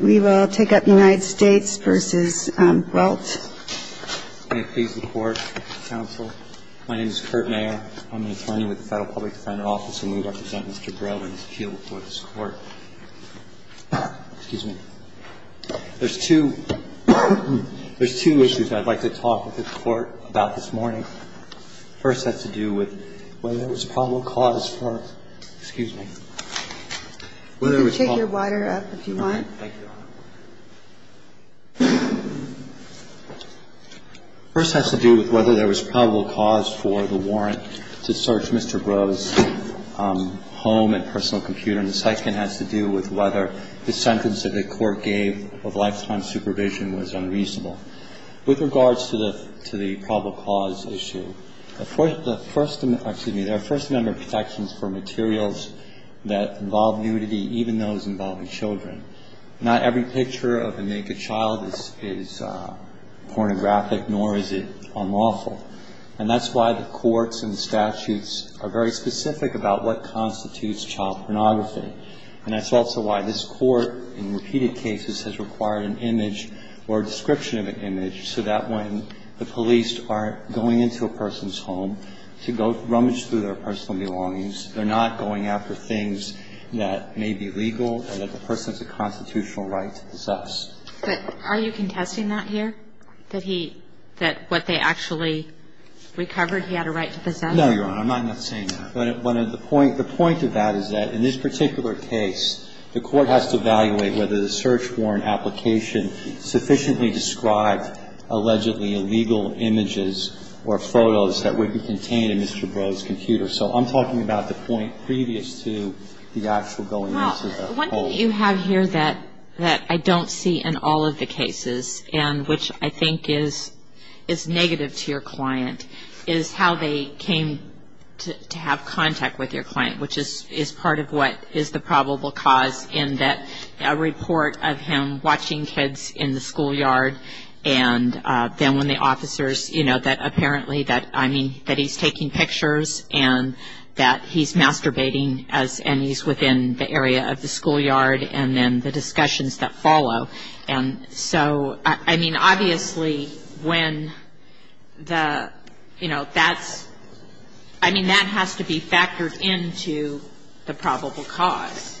We will take up United States v. Breault. May it please the Court, counsel, my name is Kurt Mayer. I'm an attorney with the Federal Public Defender Office, and we represent Mr. Breault in his appeal before this Court. Excuse me. There's two issues I'd like to talk with the Court about this morning. First has to do with whether it was a probable cause for, excuse me. Take your water up if you want. First has to do with whether there was probable cause for the warrant to search Mr. Breault's home and personal computer. And the second has to do with whether the sentence that the Court gave of lifetime supervision was unreasonable. With regards to the probable cause issue, the first, excuse me, there are a first number of protections for materials that involve nudity, even those involving children. Not every picture of a naked child is pornographic, nor is it unlawful. And that's why the courts and the statutes are very specific about what constitutes child pornography. And that's also why this Court in repeated cases has required an image or a description of an image so that when the police are going into a person's home to go rummage through their personal belongings, they're not going after things that may be legal and that the person has a constitutional right to possess. But are you contesting that here, that he – that what they actually recovered, he had a right to possess? No, Your Honor. I'm not saying that. But the point of that is that in this particular case, the Court has to evaluate whether the search warrant application sufficiently described allegedly illegal images or photos that would be contained in Mr. Breault's computer. So I'm talking about the point previous to the actual going into the home. Well, one thing you have here that I don't see in all of the cases, and which I think is negative to your client, is how they came to have contact with your client, which is part of what is the probable cause in that a report of him watching kids in the schoolyard and then when the officers, you know, that apparently that, I mean, that he's taking pictures and that he's masturbating and he's within the area of the schoolyard and then the discussions that follow. And so, I mean, obviously when the, you know, that's – I mean, that has to be factored into the probable cause.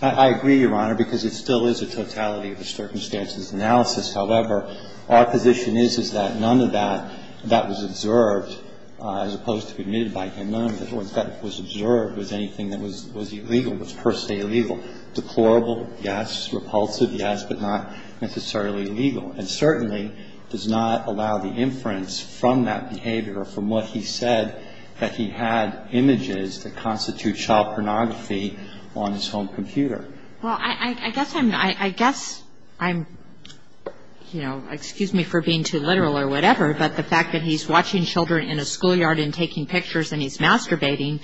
I agree, Your Honor, because it still is a totality of a circumstances analysis. However, our position is, is that none of that, that was observed, as opposed to being admitted by him, none of that was observed as anything that was illegal, was per se illegal. Deplorable, yes. Repulsive, yes. But not necessarily legal. And certainly does not allow the inference from that behavior or from what he said that he had images that constitute child pornography on his home computer. Well, I guess I'm, you know, excuse me for being too literal or whatever, but the fact that he's watching children in a schoolyard and taking pictures and he's masturbating,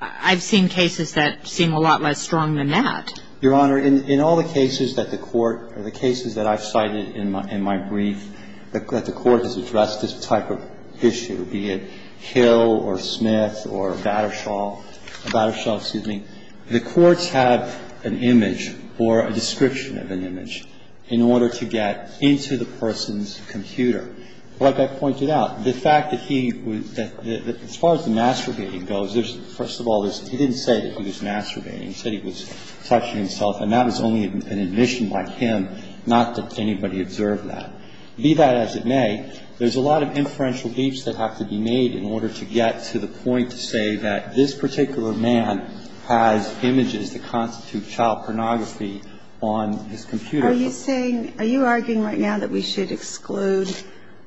I've seen cases that seem a lot less strong than that. Your Honor, in all the cases that the Court, or the cases that I've cited in my brief, that the Court has addressed this type of issue, be it Hill or Smith or Battershall, Battershall, excuse me, the Courts have an image or a description of an image in order to get into the person's computer. Like I pointed out, the fact that he, as far as the masturbating goes, there's, first of all, he didn't say that he was masturbating. He said he was touching himself, and that was only an admission by him, not that anybody observed that. Be that as it may, there's a lot of inferential leaps that have to be made in order to get to the point to say that this particular man has images that constitute child pornography on his computer. Are you saying, are you arguing right now that we should exclude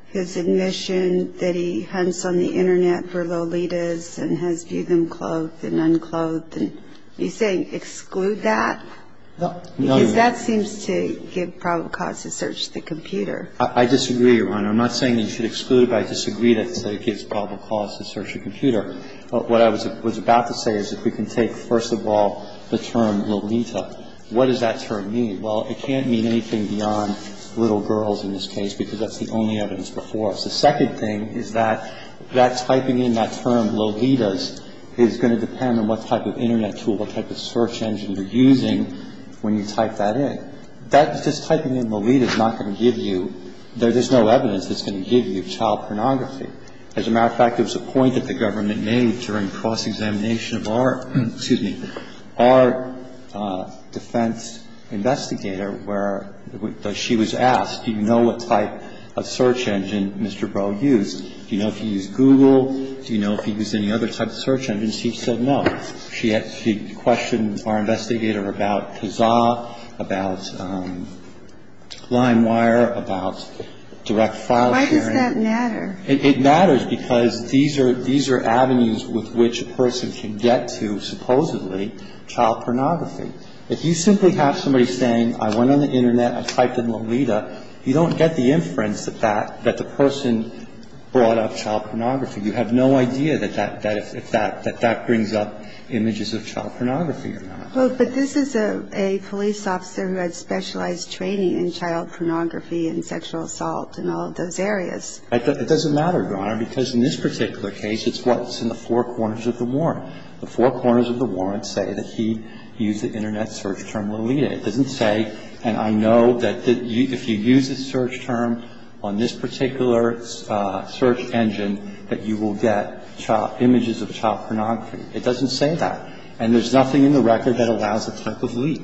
his admission that he hunts on the Internet for Lolitas and has viewed them clothed and unclothed? Are you saying exclude that? No. Because that seems to give probable cause to search the computer. I disagree, Your Honor. I'm not saying that you should exclude it, but I disagree that it gives probable cause to search a computer. What I was about to say is if we can take, first of all, the term Lolita, what does that term mean? Well, it can't mean anything beyond little girls in this case because that's the only evidence before us. The second thing is that that typing in that term, Lolitas, is going to depend on what type of Internet tool, what type of search engine you're using when you type that in. And that just typing in Lolita is not going to give you, there's no evidence that's going to give you child pornography. As a matter of fact, there was a point that the government made during cross-examination of our, excuse me, our defense investigator where she was asked, do you know what type of search engine Mr. Breaux used? Do you know if he used Google? Do you know if he used any other type of search engine? She said no. She questioned our investigator about Kazaa, about LimeWire, about direct file sharing. Why does that matter? It matters because these are avenues with which a person can get to supposedly child pornography. If you simply have somebody saying I went on the Internet, I typed in Lolita, you don't get the inference that that, that the person brought up child pornography. You have no idea if that brings up images of child pornography or not. But this is a police officer who had specialized training in child pornography and sexual assault and all of those areas. It doesn't matter, Your Honor, because in this particular case, it's what? It's in the four corners of the warrant. The four corners of the warrant say that he used the Internet search term Lolita. It doesn't say, and I know that if you use a search term on this particular search engine, that you will get images of child pornography. It doesn't say that. And there's nothing in the record that allows a type of leak.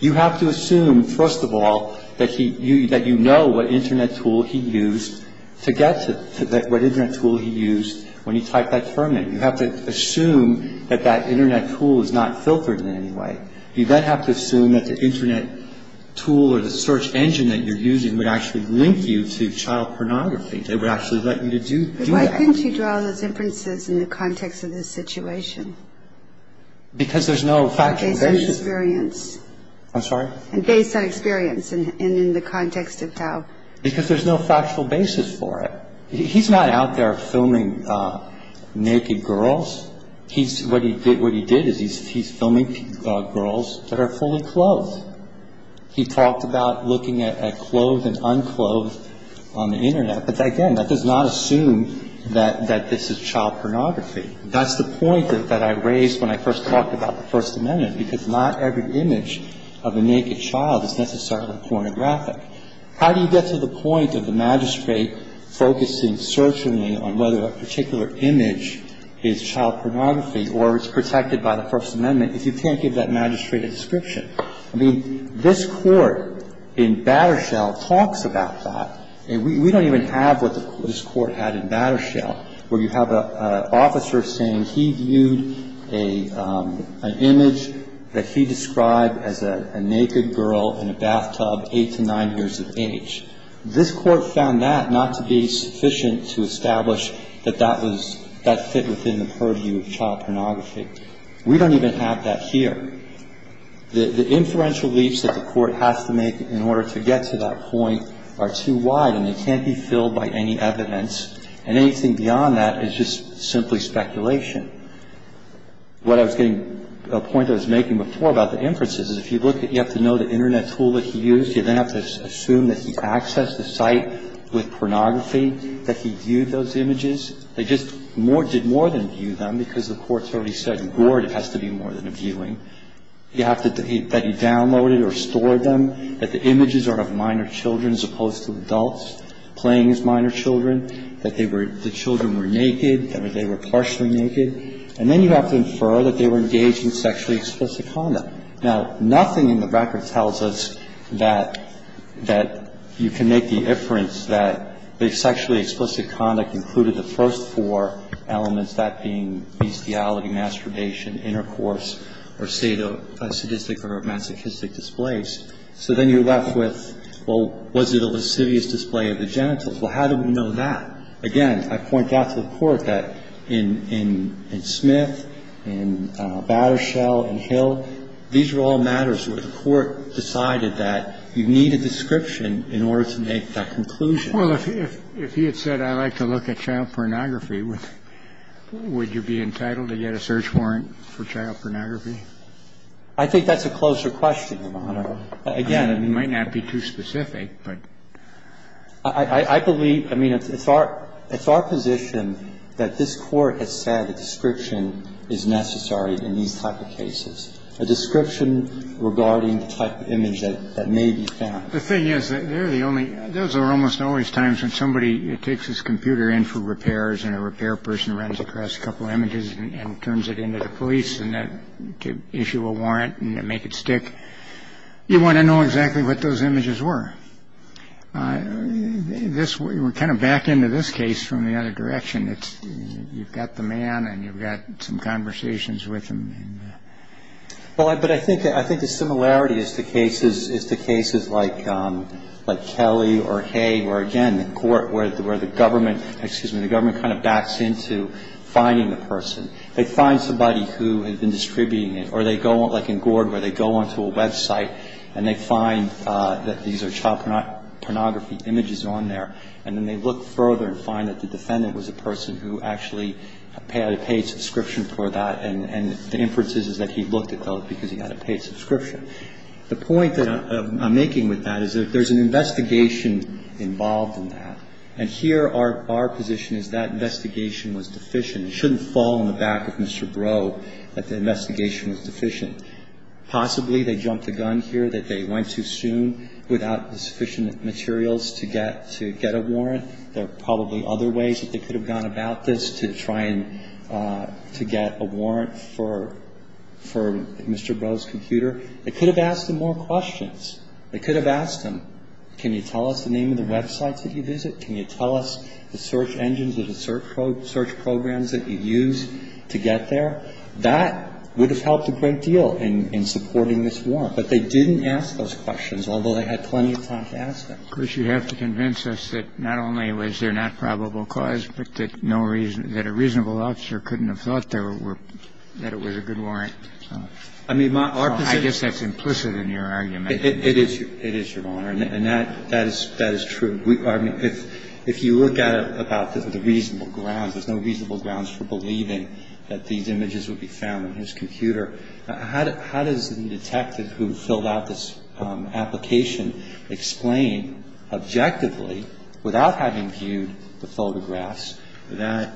You have to assume, first of all, that he, that you know what Internet tool he used to get to, what Internet tool he used when he typed that term in. You have to assume that that Internet tool is not filtered in any way. You then have to assume that the Internet tool or the search engine that you're using would actually link you to child pornography. They would actually let you to do that. Why couldn't you draw those inferences in the context of this situation? Because there's no factual basis. Based on experience. I'm sorry? Based on experience and in the context of how. Because there's no factual basis for it. He's not out there filming naked girls. He's, what he did, what he did is he's filming girls that are fully clothed. He talked about looking at clothed and unclothed on the Internet. But, again, that does not assume that this is child pornography. That's the point that I raised when I first talked about the First Amendment, because not every image of a naked child is necessarily pornographic. How do you get to the point of the magistrate focusing certainly on whether a particular image is child pornography or is protected by the First Amendment if you can't give that magistrate a description? I mean, this Court in Battershell talks about that. We don't even have what this Court had in Battershell where you have an officer saying he viewed an image that he described as a naked girl in a bathtub, 8 to 9 years of age. This Court found that not to be sufficient to establish that that was, that fit within the purview of child pornography. We don't even have that here. The inferential leaps that the Court has to make in order to get to that point are too wide and they can't be filled by any evidence. And anything beyond that is just simply speculation. What I was getting, a point I was making before about the inferences is if you look at, you have to know the Internet tool that he used. You then have to assume that he accessed the site with pornography, that he viewed those images. They just more, did more than view them because the Court's already said, the Court has to be more than a viewing. You have to, that he downloaded or stored them, that the images are of minor children as opposed to adults playing as minor children, that they were, the children were naked, that they were partially naked. And then you have to infer that they were engaged in sexually explicit conduct. Now, nothing in the record tells us that, that you can make the inference that the sexually explicit conduct included the first four elements, that being bestiality, masturbation, intercourse, or sadistic or masochistic displays. So then you're left with, well, was it a lascivious display of the genitals? Well, how do we know that? Again, I point out to the Court that in Smith, in Battershell, in Hill, these are all matters where the Court decided that you need a description in order to make that conclusion. Well, if he had said I like to look at child pornography, would you be entitled to get a search warrant for child pornography? I think that's a closer question, Your Honor. Again, it might not be too specific, but I believe, I mean, it's our position that this Court has said a description is necessary in these type of cases, a description regarding the type of image that may be found. The thing is that they're the only, those are almost always times when somebody takes his computer in for repairs and a repair person runs across a couple of images and turns it into the police to issue a warrant and make it stick. You want to know exactly what those images were. We're kind of back into this case from the other direction. You've got the man and you've got some conversations with him. Well, but I think the similarity is the cases like Kelly or Hay where, again, the Court, where the government, excuse me, the government kind of backs into finding the person. They find somebody who had been distributing it or they go, like in Gord, where they go onto a website and they find that these are child pornography images on there and then they look further and find that the defendant was a person who actually had a paid subscription for that. And the inference is that he looked at those because he had a paid subscription. The point that I'm making with that is that there's an investigation involved in that. And here our position is that investigation was deficient. It shouldn't fall on the back of Mr. Breaux that the investigation was deficient. Possibly they jumped the gun here that they went too soon without the sufficient materials to get a warrant. There are probably other ways that they could have gone about this to try and to get a warrant for Mr. Breaux's computer. They could have asked him more questions. They could have asked him, can you tell us the name of the websites that you visit? Can you tell us the search engines or the search programs that you use to get there? That would have helped a great deal in supporting this warrant. But they didn't ask those questions, although they had plenty of time to ask them. that these images were found on his computer. Of course, you have to convince us that not only was there not probable cause, but that no reason that a reasonable officer couldn't have thought there were that it was a good warrant. I mean, my. I guess that's implicit in your argument. It is. It is, Your Honor. And that is true. I mean, if you look at it about the reasonable grounds, there's no reasonable grounds for believing that these images would be found on his computer. How does the detective who filled out this application explain objectively, without having viewed the photographs, that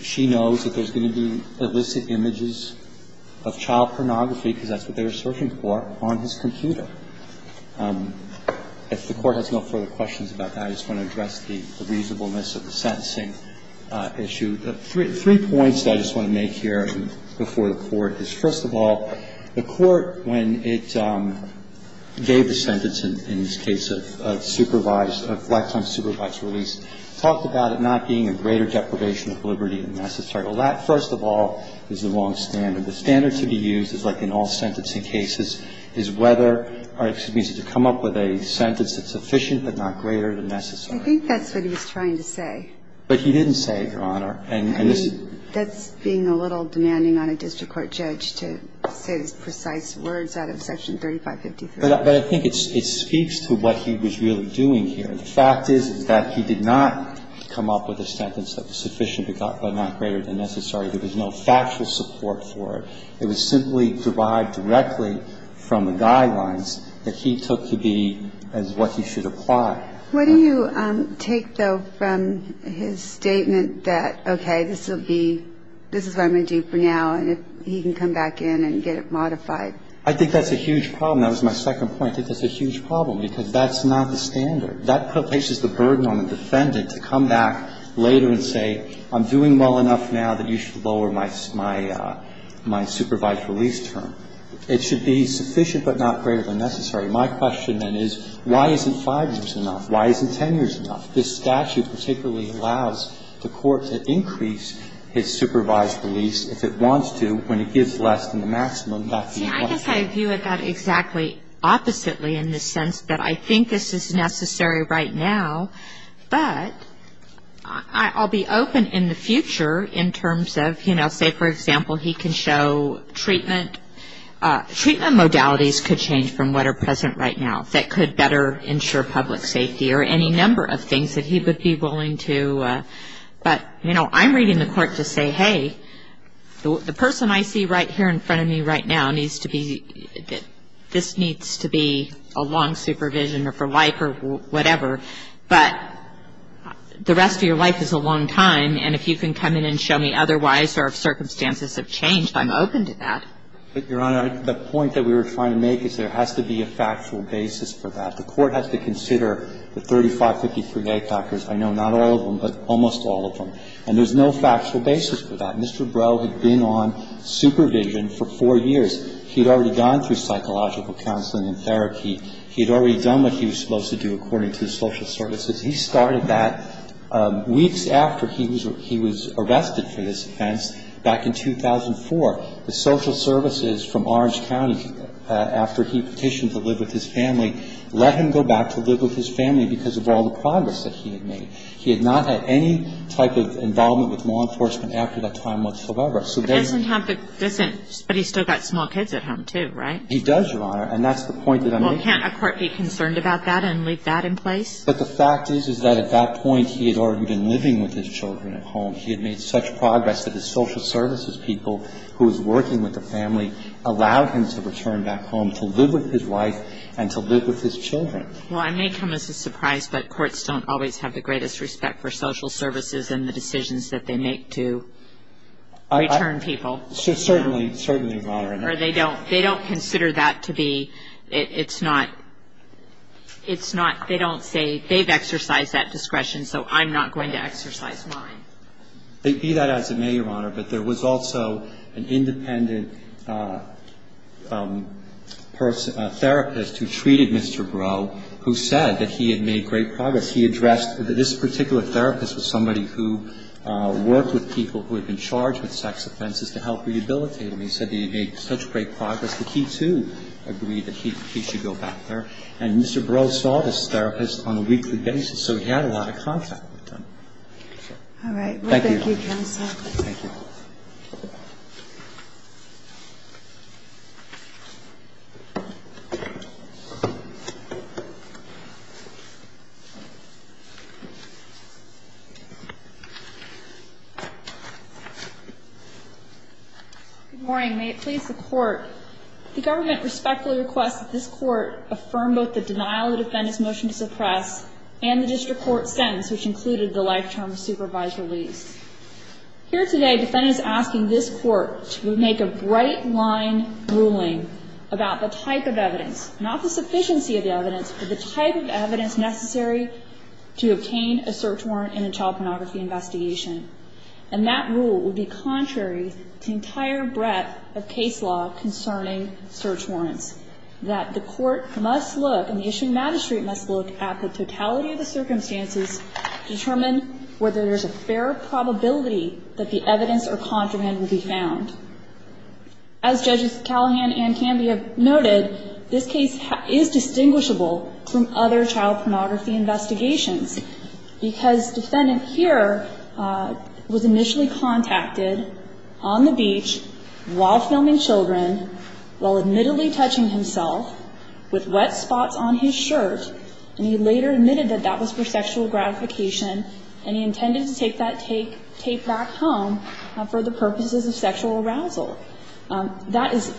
she knows that there's going to be illicit images of child pornography, because that's what they were searching for, on his computer? If the Court has no further questions about that, I just want to address the reasonableness of the sentencing issue. Three points that I just want to make here before the Court is, first of all, the Court, when it gave the sentence in this case of supervised, of lifetime supervised release, talked about it not being a greater deprivation of liberty than necessary. Well, that, first of all, is the wrong standard. The standard to be used is like in all sentencing cases, is whether, or excuse me, is to come up with a sentence that's sufficient but not greater than necessary. I think that's what he was trying to say. But he didn't say it, Your Honor. I mean, that's being a little demanding on a district court judge to say the precise words out of Section 3553. But I think it speaks to what he was really doing here. The fact is, is that he did not come up with a sentence that was sufficient but not greater than necessary. There was no factual support for it. It was simply derived directly from the guidelines that he took to be as what he should apply. What do you take, though, from his statement that, okay, this will be, this is what I'm going to do for now, and if he can come back in and get it modified? I think that's a huge problem. That was my second point. I think that's a huge problem, because that's not the standard. That places the burden on the defendant to come back later and say, I'm doing well enough now that you should lower my supervised release term. It should be sufficient but not greater than necessary. My question, then, is why isn't 5 years enough? Why isn't 10 years enough? This statute particularly allows the court to increase its supervised release if it wants to when it gives less than the maximum. That's the question. See, I guess I view it about exactly oppositely in the sense that I think this is necessary right now, but I'll be open in the future in terms of, you know, say, for example, he can show treatment. Treatment modalities could change from what are present right now that could better ensure public safety or any number of things that he would be willing to. But, you know, I'm reading the court to say, hey, the person I see right here in front of me right now needs to be, this needs to be a long supervision or for whatever, but the rest of your life is a long time. And if you can come in and show me otherwise or if circumstances have changed, I'm open to that. But, Your Honor, the point that we were trying to make is there has to be a factual basis for that. The court has to consider the 3553A factors. I know not all of them, but almost all of them. And there's no factual basis for that. Mr. Breaux had been on supervision for 4 years. He had already gone through psychological counseling and therapy. He had already done what he was supposed to do according to the social services. He started that weeks after he was arrested for this offense back in 2004. The social services from Orange County, after he petitioned to live with his family, let him go back to live with his family because of all the progress that he had made. He had not had any type of involvement with law enforcement after that time whatsoever. So there's no question. But he still got small kids at home, too, right? He does, Your Honor. And that's the point that I'm making. Well, can't a court be concerned about that and leave that in place? But the fact is, is that at that point, he had already been living with his children at home. He had made such progress that his social services people, who was working with the family, allowed him to return back home to live with his wife and to live with his children. Well, I may come as a surprise, but courts don't always have the greatest respect Certainly. Certainly, Your Honor. Or they don't. They don't consider that to be, it's not, it's not, they don't say, they've exercised that discretion, so I'm not going to exercise mine. Be that as it may, Your Honor, but there was also an independent therapist who treated Mr. Breaux who said that he had made great progress. He addressed this particular therapist was somebody who worked with people who had been charged with sex offenses to help rehabilitate them. He said that he had made such great progress that he, too, agreed that he should go back there. And Mr. Breaux saw this therapist on a weekly basis, so he had a lot of contact with them. All right. Well, thank you, counsel. Thank you. Good morning. May it please the Court. The government respectfully requests that this Court affirm both the denial of the defendant's motion to suppress and the district court sentence, which included the life-term supervised release. Thank you. Thank you. Thank you. Thank you. Thank you. Thank you. Thank you. Thank you. Thank you. That coffee's in order. The defendant is asking this Court to make a brightline ruling about the type of evidence, not the sufficiency of the evidence, but the type of evidence necessary to obtain a search warrant in a child pornography investigation. And that rule would be contrary to the entire breadth of case law concerning search warrants, that the Court must look, and the issuing magistrate must look at the totality of the circumstances, determine whether there's a fair probability that the evidence or contraband will be found. As Judges Callahan and Cambia noted, this case is distinguishable from other child pornography investigations because defendant here was initially contacted on the beach while filming children, while admittedly touching himself, with wet spots on his shirt, and he later admitted that that was for sexual gratification, and he intended to take that tape back home for the purposes of sexual arousal. That is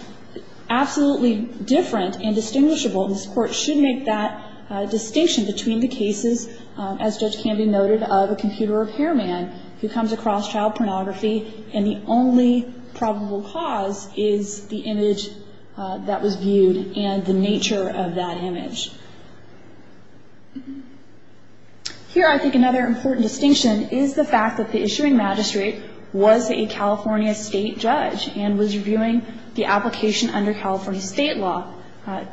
absolutely different and distinguishable. This Court should make that distinction between the cases, as Judge Cambia noted, of a computer repairman who comes across child pornography, and the only probable cause is the image that was viewed and the nature of that image. Here I think another important distinction is the fact that the issuing magistrate was a California State judge and was reviewing the application under California State law.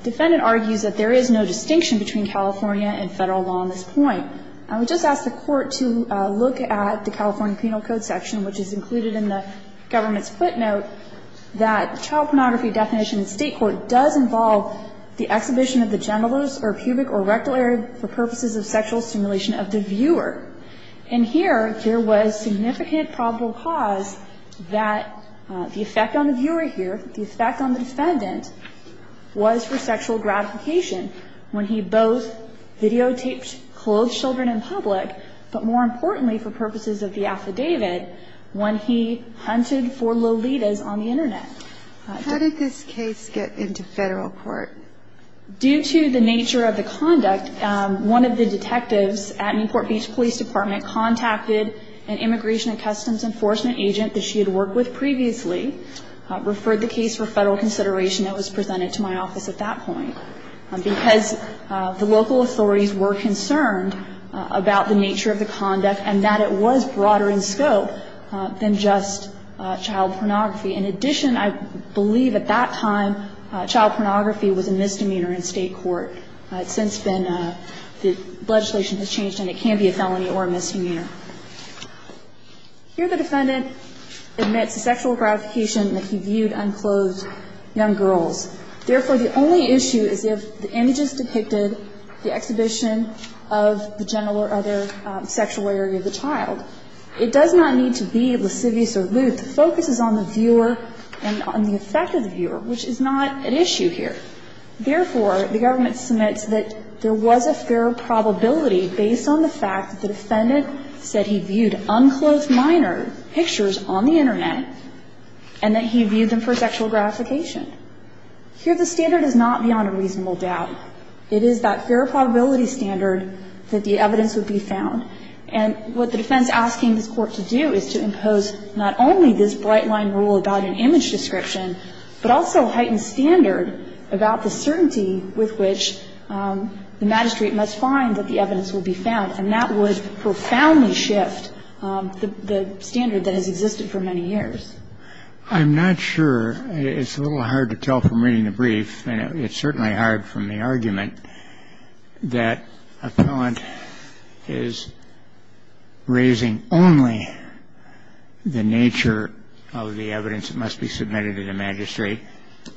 Defendant argues that there is no distinction between California and Federal law on this point. I would just ask the Court to look at the California Penal Code section, which is included in the government's footnote, that the child pornography definition in state court does involve the exhibition of the genitals or pubic or rectal area for purposes of sexual stimulation of the viewer. And here there was significant probable cause that the effect on the viewer here, the effect on the defendant, was for sexual gratification when he both videotaped clothed children in public, but more importantly for purposes of the affidavit, when he hunted for lolitas on the Internet. How did this case get into Federal court? Due to the nature of the conduct, one of the detectives at Newport Beach Police Department contacted an Immigration and Customs Enforcement agent that she had worked with previously, referred the case for Federal consideration that was presented to my office at that point, because the local authorities were concerned about the nature of the conduct and that it was broader in scope than just child pornography. In addition, I believe at that time child pornography was a misdemeanor in state court. It's since been that legislation has changed and it can be a felony or a misdemeanor. Here the defendant admits sexual gratification that he viewed unclothed young girls. Therefore, the only issue is if the images depicted the exhibition of the genital or other sexual area of the child. It does not need to be lascivious or lewd. The focus is on the viewer and on the effect of the viewer, which is not an issue here. Therefore, the government submits that there was a fair probability based on the fact that the defendant said he viewed unclothed minor pictures on the Internet and that he viewed them for sexual gratification. Here the standard is not beyond a reasonable doubt. It is that fair probability standard that the evidence would be found. And what the defense is asking this Court to do is to impose not only this bright line rule about an image description, but also heighten standard about the certainty with which the magistrate must find that the evidence will be found. And that would profoundly shift the standard that has existed for many years. I'm not sure. And it's certainly hard from the argument that appellant is raising only the nature of the evidence that must be submitted to the magistrate.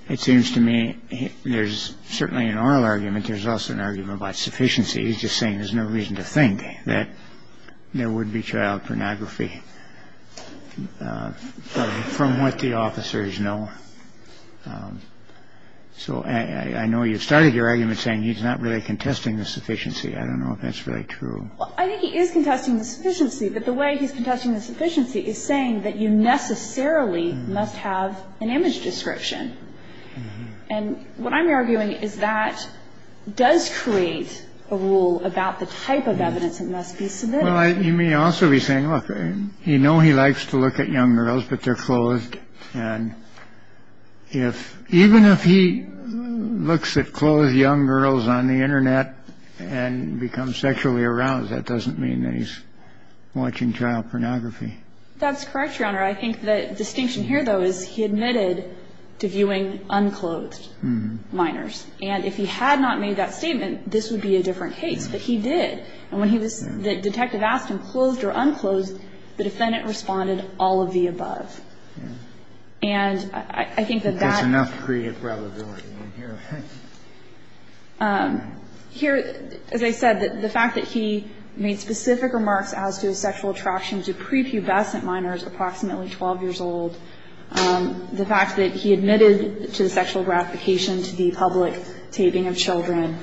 It seems to me there's certainly an oral argument. There's also an argument about sufficiency. He's just saying there's no reason to think that there would be child pornography. I don't know if that's true. I think he is contesting the sufficiency, but the way he's contesting the sufficiency is saying that you necessarily must have an image description. And what I'm arguing is that does create a rule about the type of evidence that must be submitted. Well, you may also be saying, look, the evidence that's being submitted to the magistrate is that the evidence that's being submitted to the magistrate is the evidence that that's being submitted to the magistrate. He knows he likes to look at young girls, but they're closed. And if even if he looks at closed young girls on the Internet and becomes sexually aroused, that doesn't mean that he's watching child pornography. That's correct, Your Honor. I think the distinction here, though, is he admitted to viewing unclothed minors. And if he had not made that statement, this would be a different case. But he did. And when he was the detective asked him closed or unclothed, the defendant responded all of the above. And I think that that's enough to create a probability. Here, as I said, the fact that he made specific remarks as to sexual attraction to prepubescent minors approximately 12 years old, the fact that he admitted to the sexual gratification to the public taping of children.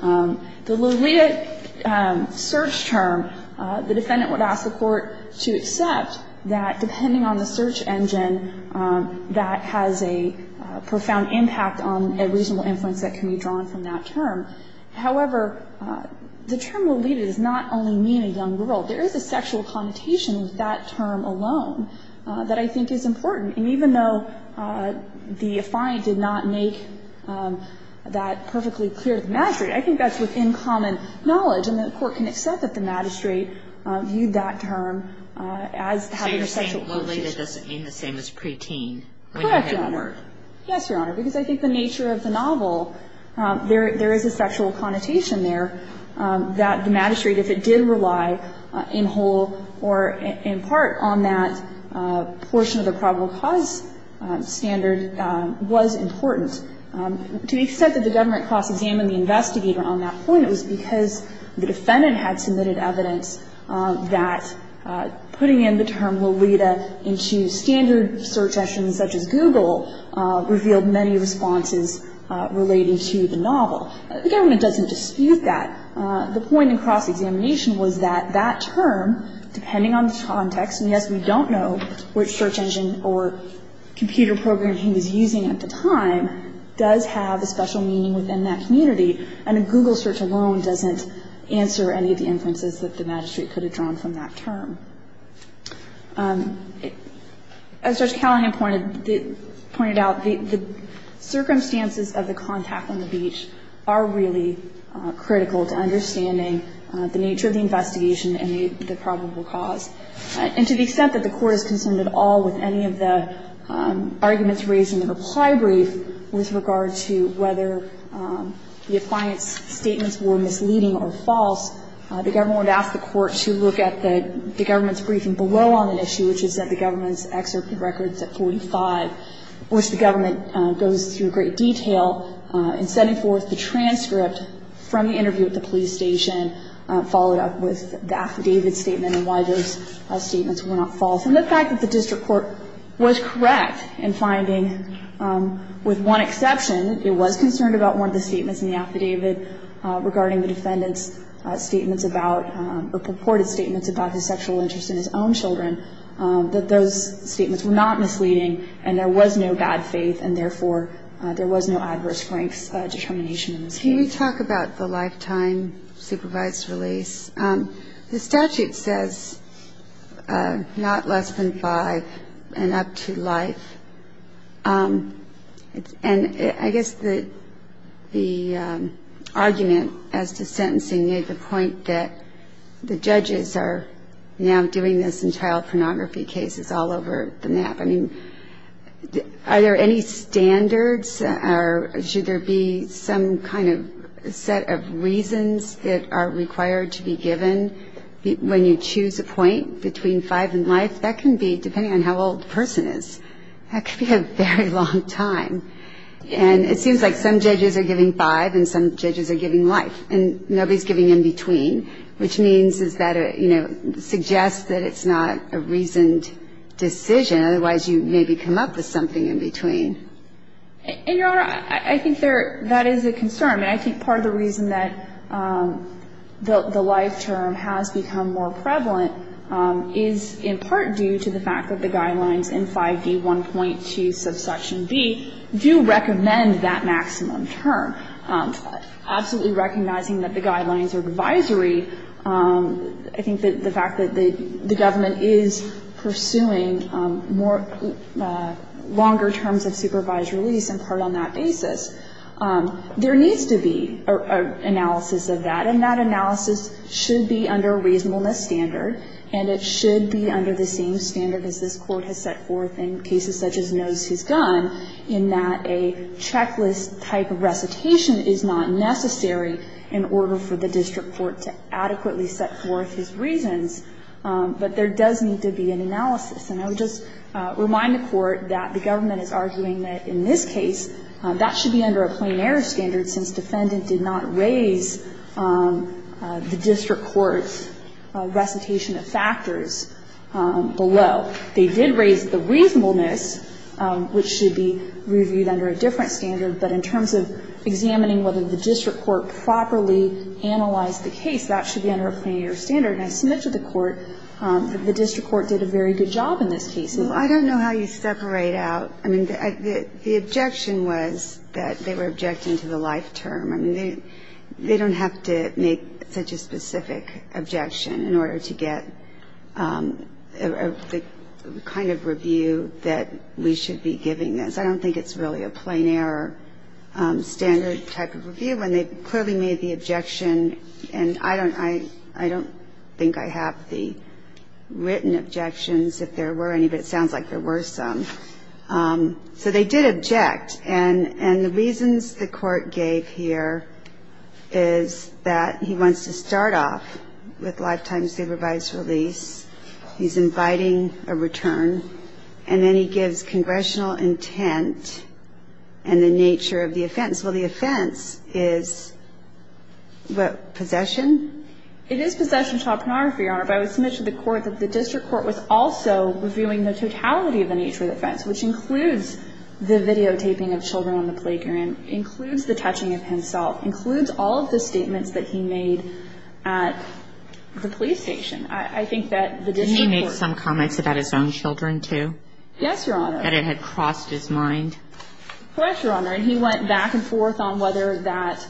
The Laliat search term, the defendant would ask the Court to accept that depending on the search engine that has a profound impact on a reasonable influence that can be drawn from that term. However, the term Laliat does not only mean a young girl. There is a sexual connotation with that term alone that I think is important. And even though the defiant did not make that perfectly clear to the magistrate, I think that's within common knowledge. And the Court can accept that the magistrate viewed that term as having a sexual connotation. Kagan. I think Laliat doesn't mean the same as preteen. Correct, Your Honor. Yes, Your Honor. Because I think the nature of the novel, there is a sexual connotation there that the magistrate, if it did rely in whole or in part on that portion of the probable cause standard, was important. To the extent that the government cross-examined the investigator on that point, it was because the defendant had submitted evidence that putting in the term Laliat into standard search engines such as Google revealed many responses relating to the novel. The government doesn't dispute that. The point in cross-examination was that that term, depending on the context, and yes, we don't know which search engine or computer program he was using at the time, does have a special meaning within that community. And a Google search alone doesn't answer any of the inferences that the magistrate could have drawn from that term. As Judge Callahan pointed out, the circumstances of the contact on the beach are really critical to understanding the nature of the investigation and the probable cause. And to the extent that the Court is concerned at all with any of the arguments raised in the reply brief with regard to whether the appliance statements were misleading or false, the government would ask the Court to look at the government's briefing below on an issue, which is that the government's excerpt of records at 45, which the government goes through in great detail, and sending forth the transcript from the interview at the police station, followed up with the affidavit statement and why those statements were not false. And the fact that the district court was correct in finding, with one exception, it was concerned about one of the statements in the affidavit regarding the defendant's statements about or purported statements about his sexual interest in his own children, that those statements were not misleading and there was no bad faith and, therefore, there was no adverse strengths determination in this case. Can you talk about the lifetime supervised release? The statute says not less than five and up to life. And I guess the argument as to sentencing made the point that the judges are now doing this in child pornography cases all over the map. I mean, are there any standards or should there be some kind of set of reasons that are required to be given when you choose a point between five and life? That can be, depending on how old the person is, that can be a very long time. And it seems like some judges are giving five and some judges are giving life, and nobody is giving in between, which means is that, you know, it's not a reasoned decision. Otherwise, you maybe come up with something in between. And, Your Honor, I think there that is a concern. I mean, I think part of the reason that the life term has become more prevalent is in part due to the fact that the guidelines in 5D1.2 subsection B do recommend that maximum term, absolutely recognizing that the guidelines are advisory. I think that the fact that the government is pursuing more longer terms of supervised release in part on that basis, there needs to be an analysis of that, and that analysis should be under a reasonableness standard. And it should be under the same standard as this Court has set forth in cases such as Noes v. Gunn in that a checklist-type recitation is not necessary in order for the district court to adequately set forth his reasons. But there does need to be an analysis. And I would just remind the Court that the government is arguing that in this case, that should be under a plain error standard since defendant did not raise the district court's recitation of factors below. They did raise the reasonableness, which should be reviewed under a different standard, but in terms of examining whether the district court properly analyzed the case, that should be under a plain error standard. And I submitted to the Court that the district court did a very good job in this case. I don't know how you separate out. I mean, the objection was that they were objecting to the life term. I mean, they don't have to make such a specific objection in order to get the kind of review that we should be giving this. I don't think it's really a plain error standard type of review. And they clearly made the objection. And I don't think I have the written objections, if there were any. But it sounds like there were some. So they did object. And the reasons the Court gave here is that he wants to start off with lifetime supervised release. He's inviting a return. And then he gives congressional intent and the nature of the offense. Well, the offense is what, possession? It is possession of child pornography, Your Honor. But I would submit to the Court that the district court was also reviewing the totality of the nature of the offense, which includes the videotaping of children on the playground, includes the touching of himself, includes all of the statements that he made at the police station. I think that the district court ---- Didn't he make some comments about his own children, too? Yes, Your Honor. That it had crossed his mind. Yes, Your Honor. And he went back and forth on whether that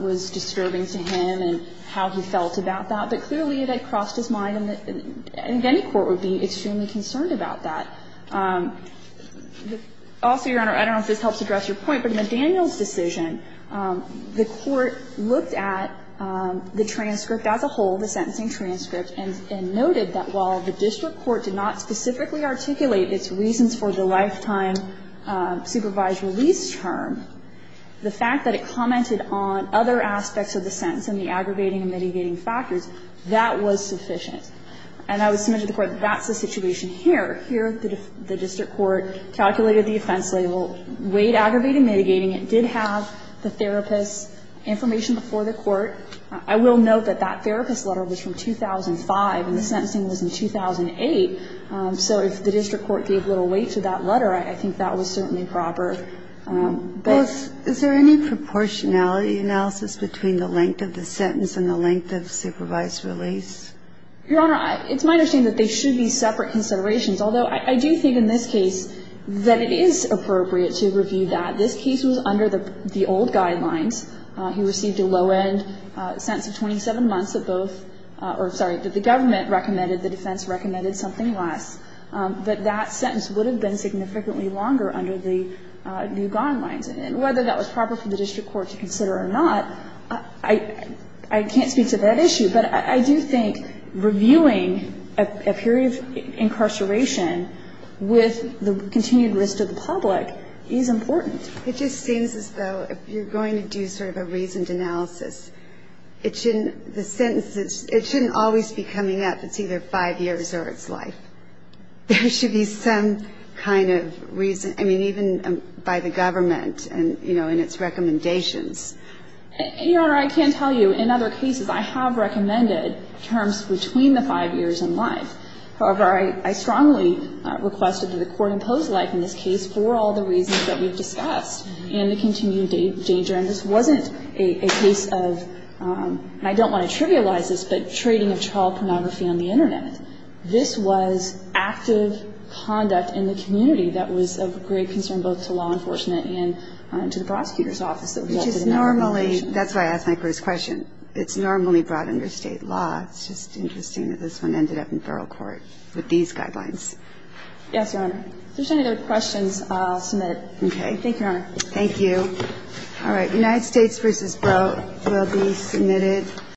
was disturbing to him and how he felt about that. But clearly it had crossed his mind, and any court would be extremely concerned about that. Also, Your Honor, I don't know if this helps address your point, but in the Daniels decision, the court looked at the transcript as a whole, the sentencing transcript, and noted that while the district court did not specifically articulate its reasons for the lifetime supervised release term, the fact that it commented on other aspects of the sentence and the aggravating and mitigating factors, that was sufficient. And I would submit to the Court that that's the situation here. Here, the district court calculated the offense label, weighed aggravating and mitigating. It did have the therapist's information before the court. I will note that that therapist's letter was from 2005, and the sentencing was in 2008. So if the district court gave little weight to that letter, I think that was certainly proper. But ---- Well, is there any proportionality analysis between the length of the sentence and the length of supervised release? Your Honor, it's my understanding that they should be separate considerations, although I do think in this case that it is appropriate to review that. This case was under the old guidelines. He received a low-end sentence of 27 months that both or, sorry, that the government recommended, the defense recommended something less. But that sentence would have been significantly longer under the new guidelines. And whether that was proper for the district court to consider or not, I can't speak to that issue. But I do think reviewing a period of incarceration with the continued risk to the public is important. It just seems as though if you're going to do sort of a reasoned analysis, it shouldn't ---- the sentence, it shouldn't always be coming up. It's either five years or it's life. There should be some kind of reason. I mean, even by the government and, you know, in its recommendations. Your Honor, I can tell you in other cases I have recommended terms between the five years and life. However, I strongly requested that the court impose life in this case for all the reasons that we've discussed and the continued danger. And this wasn't a case of, and I don't want to trivialize this, but trading of child pornography on the Internet. This was active conduct in the community that was of great concern both to law enforcement and to the prosecutor's office. Which is normally, that's why I asked my first question. It's normally brought under state law. It's just interesting that this one ended up in federal court with these guidelines. Yes, Your Honor. If there's any other questions, I'll submit it. Okay. Thank you, Your Honor. Thank you. All right. United States v. Breaux will be submitted.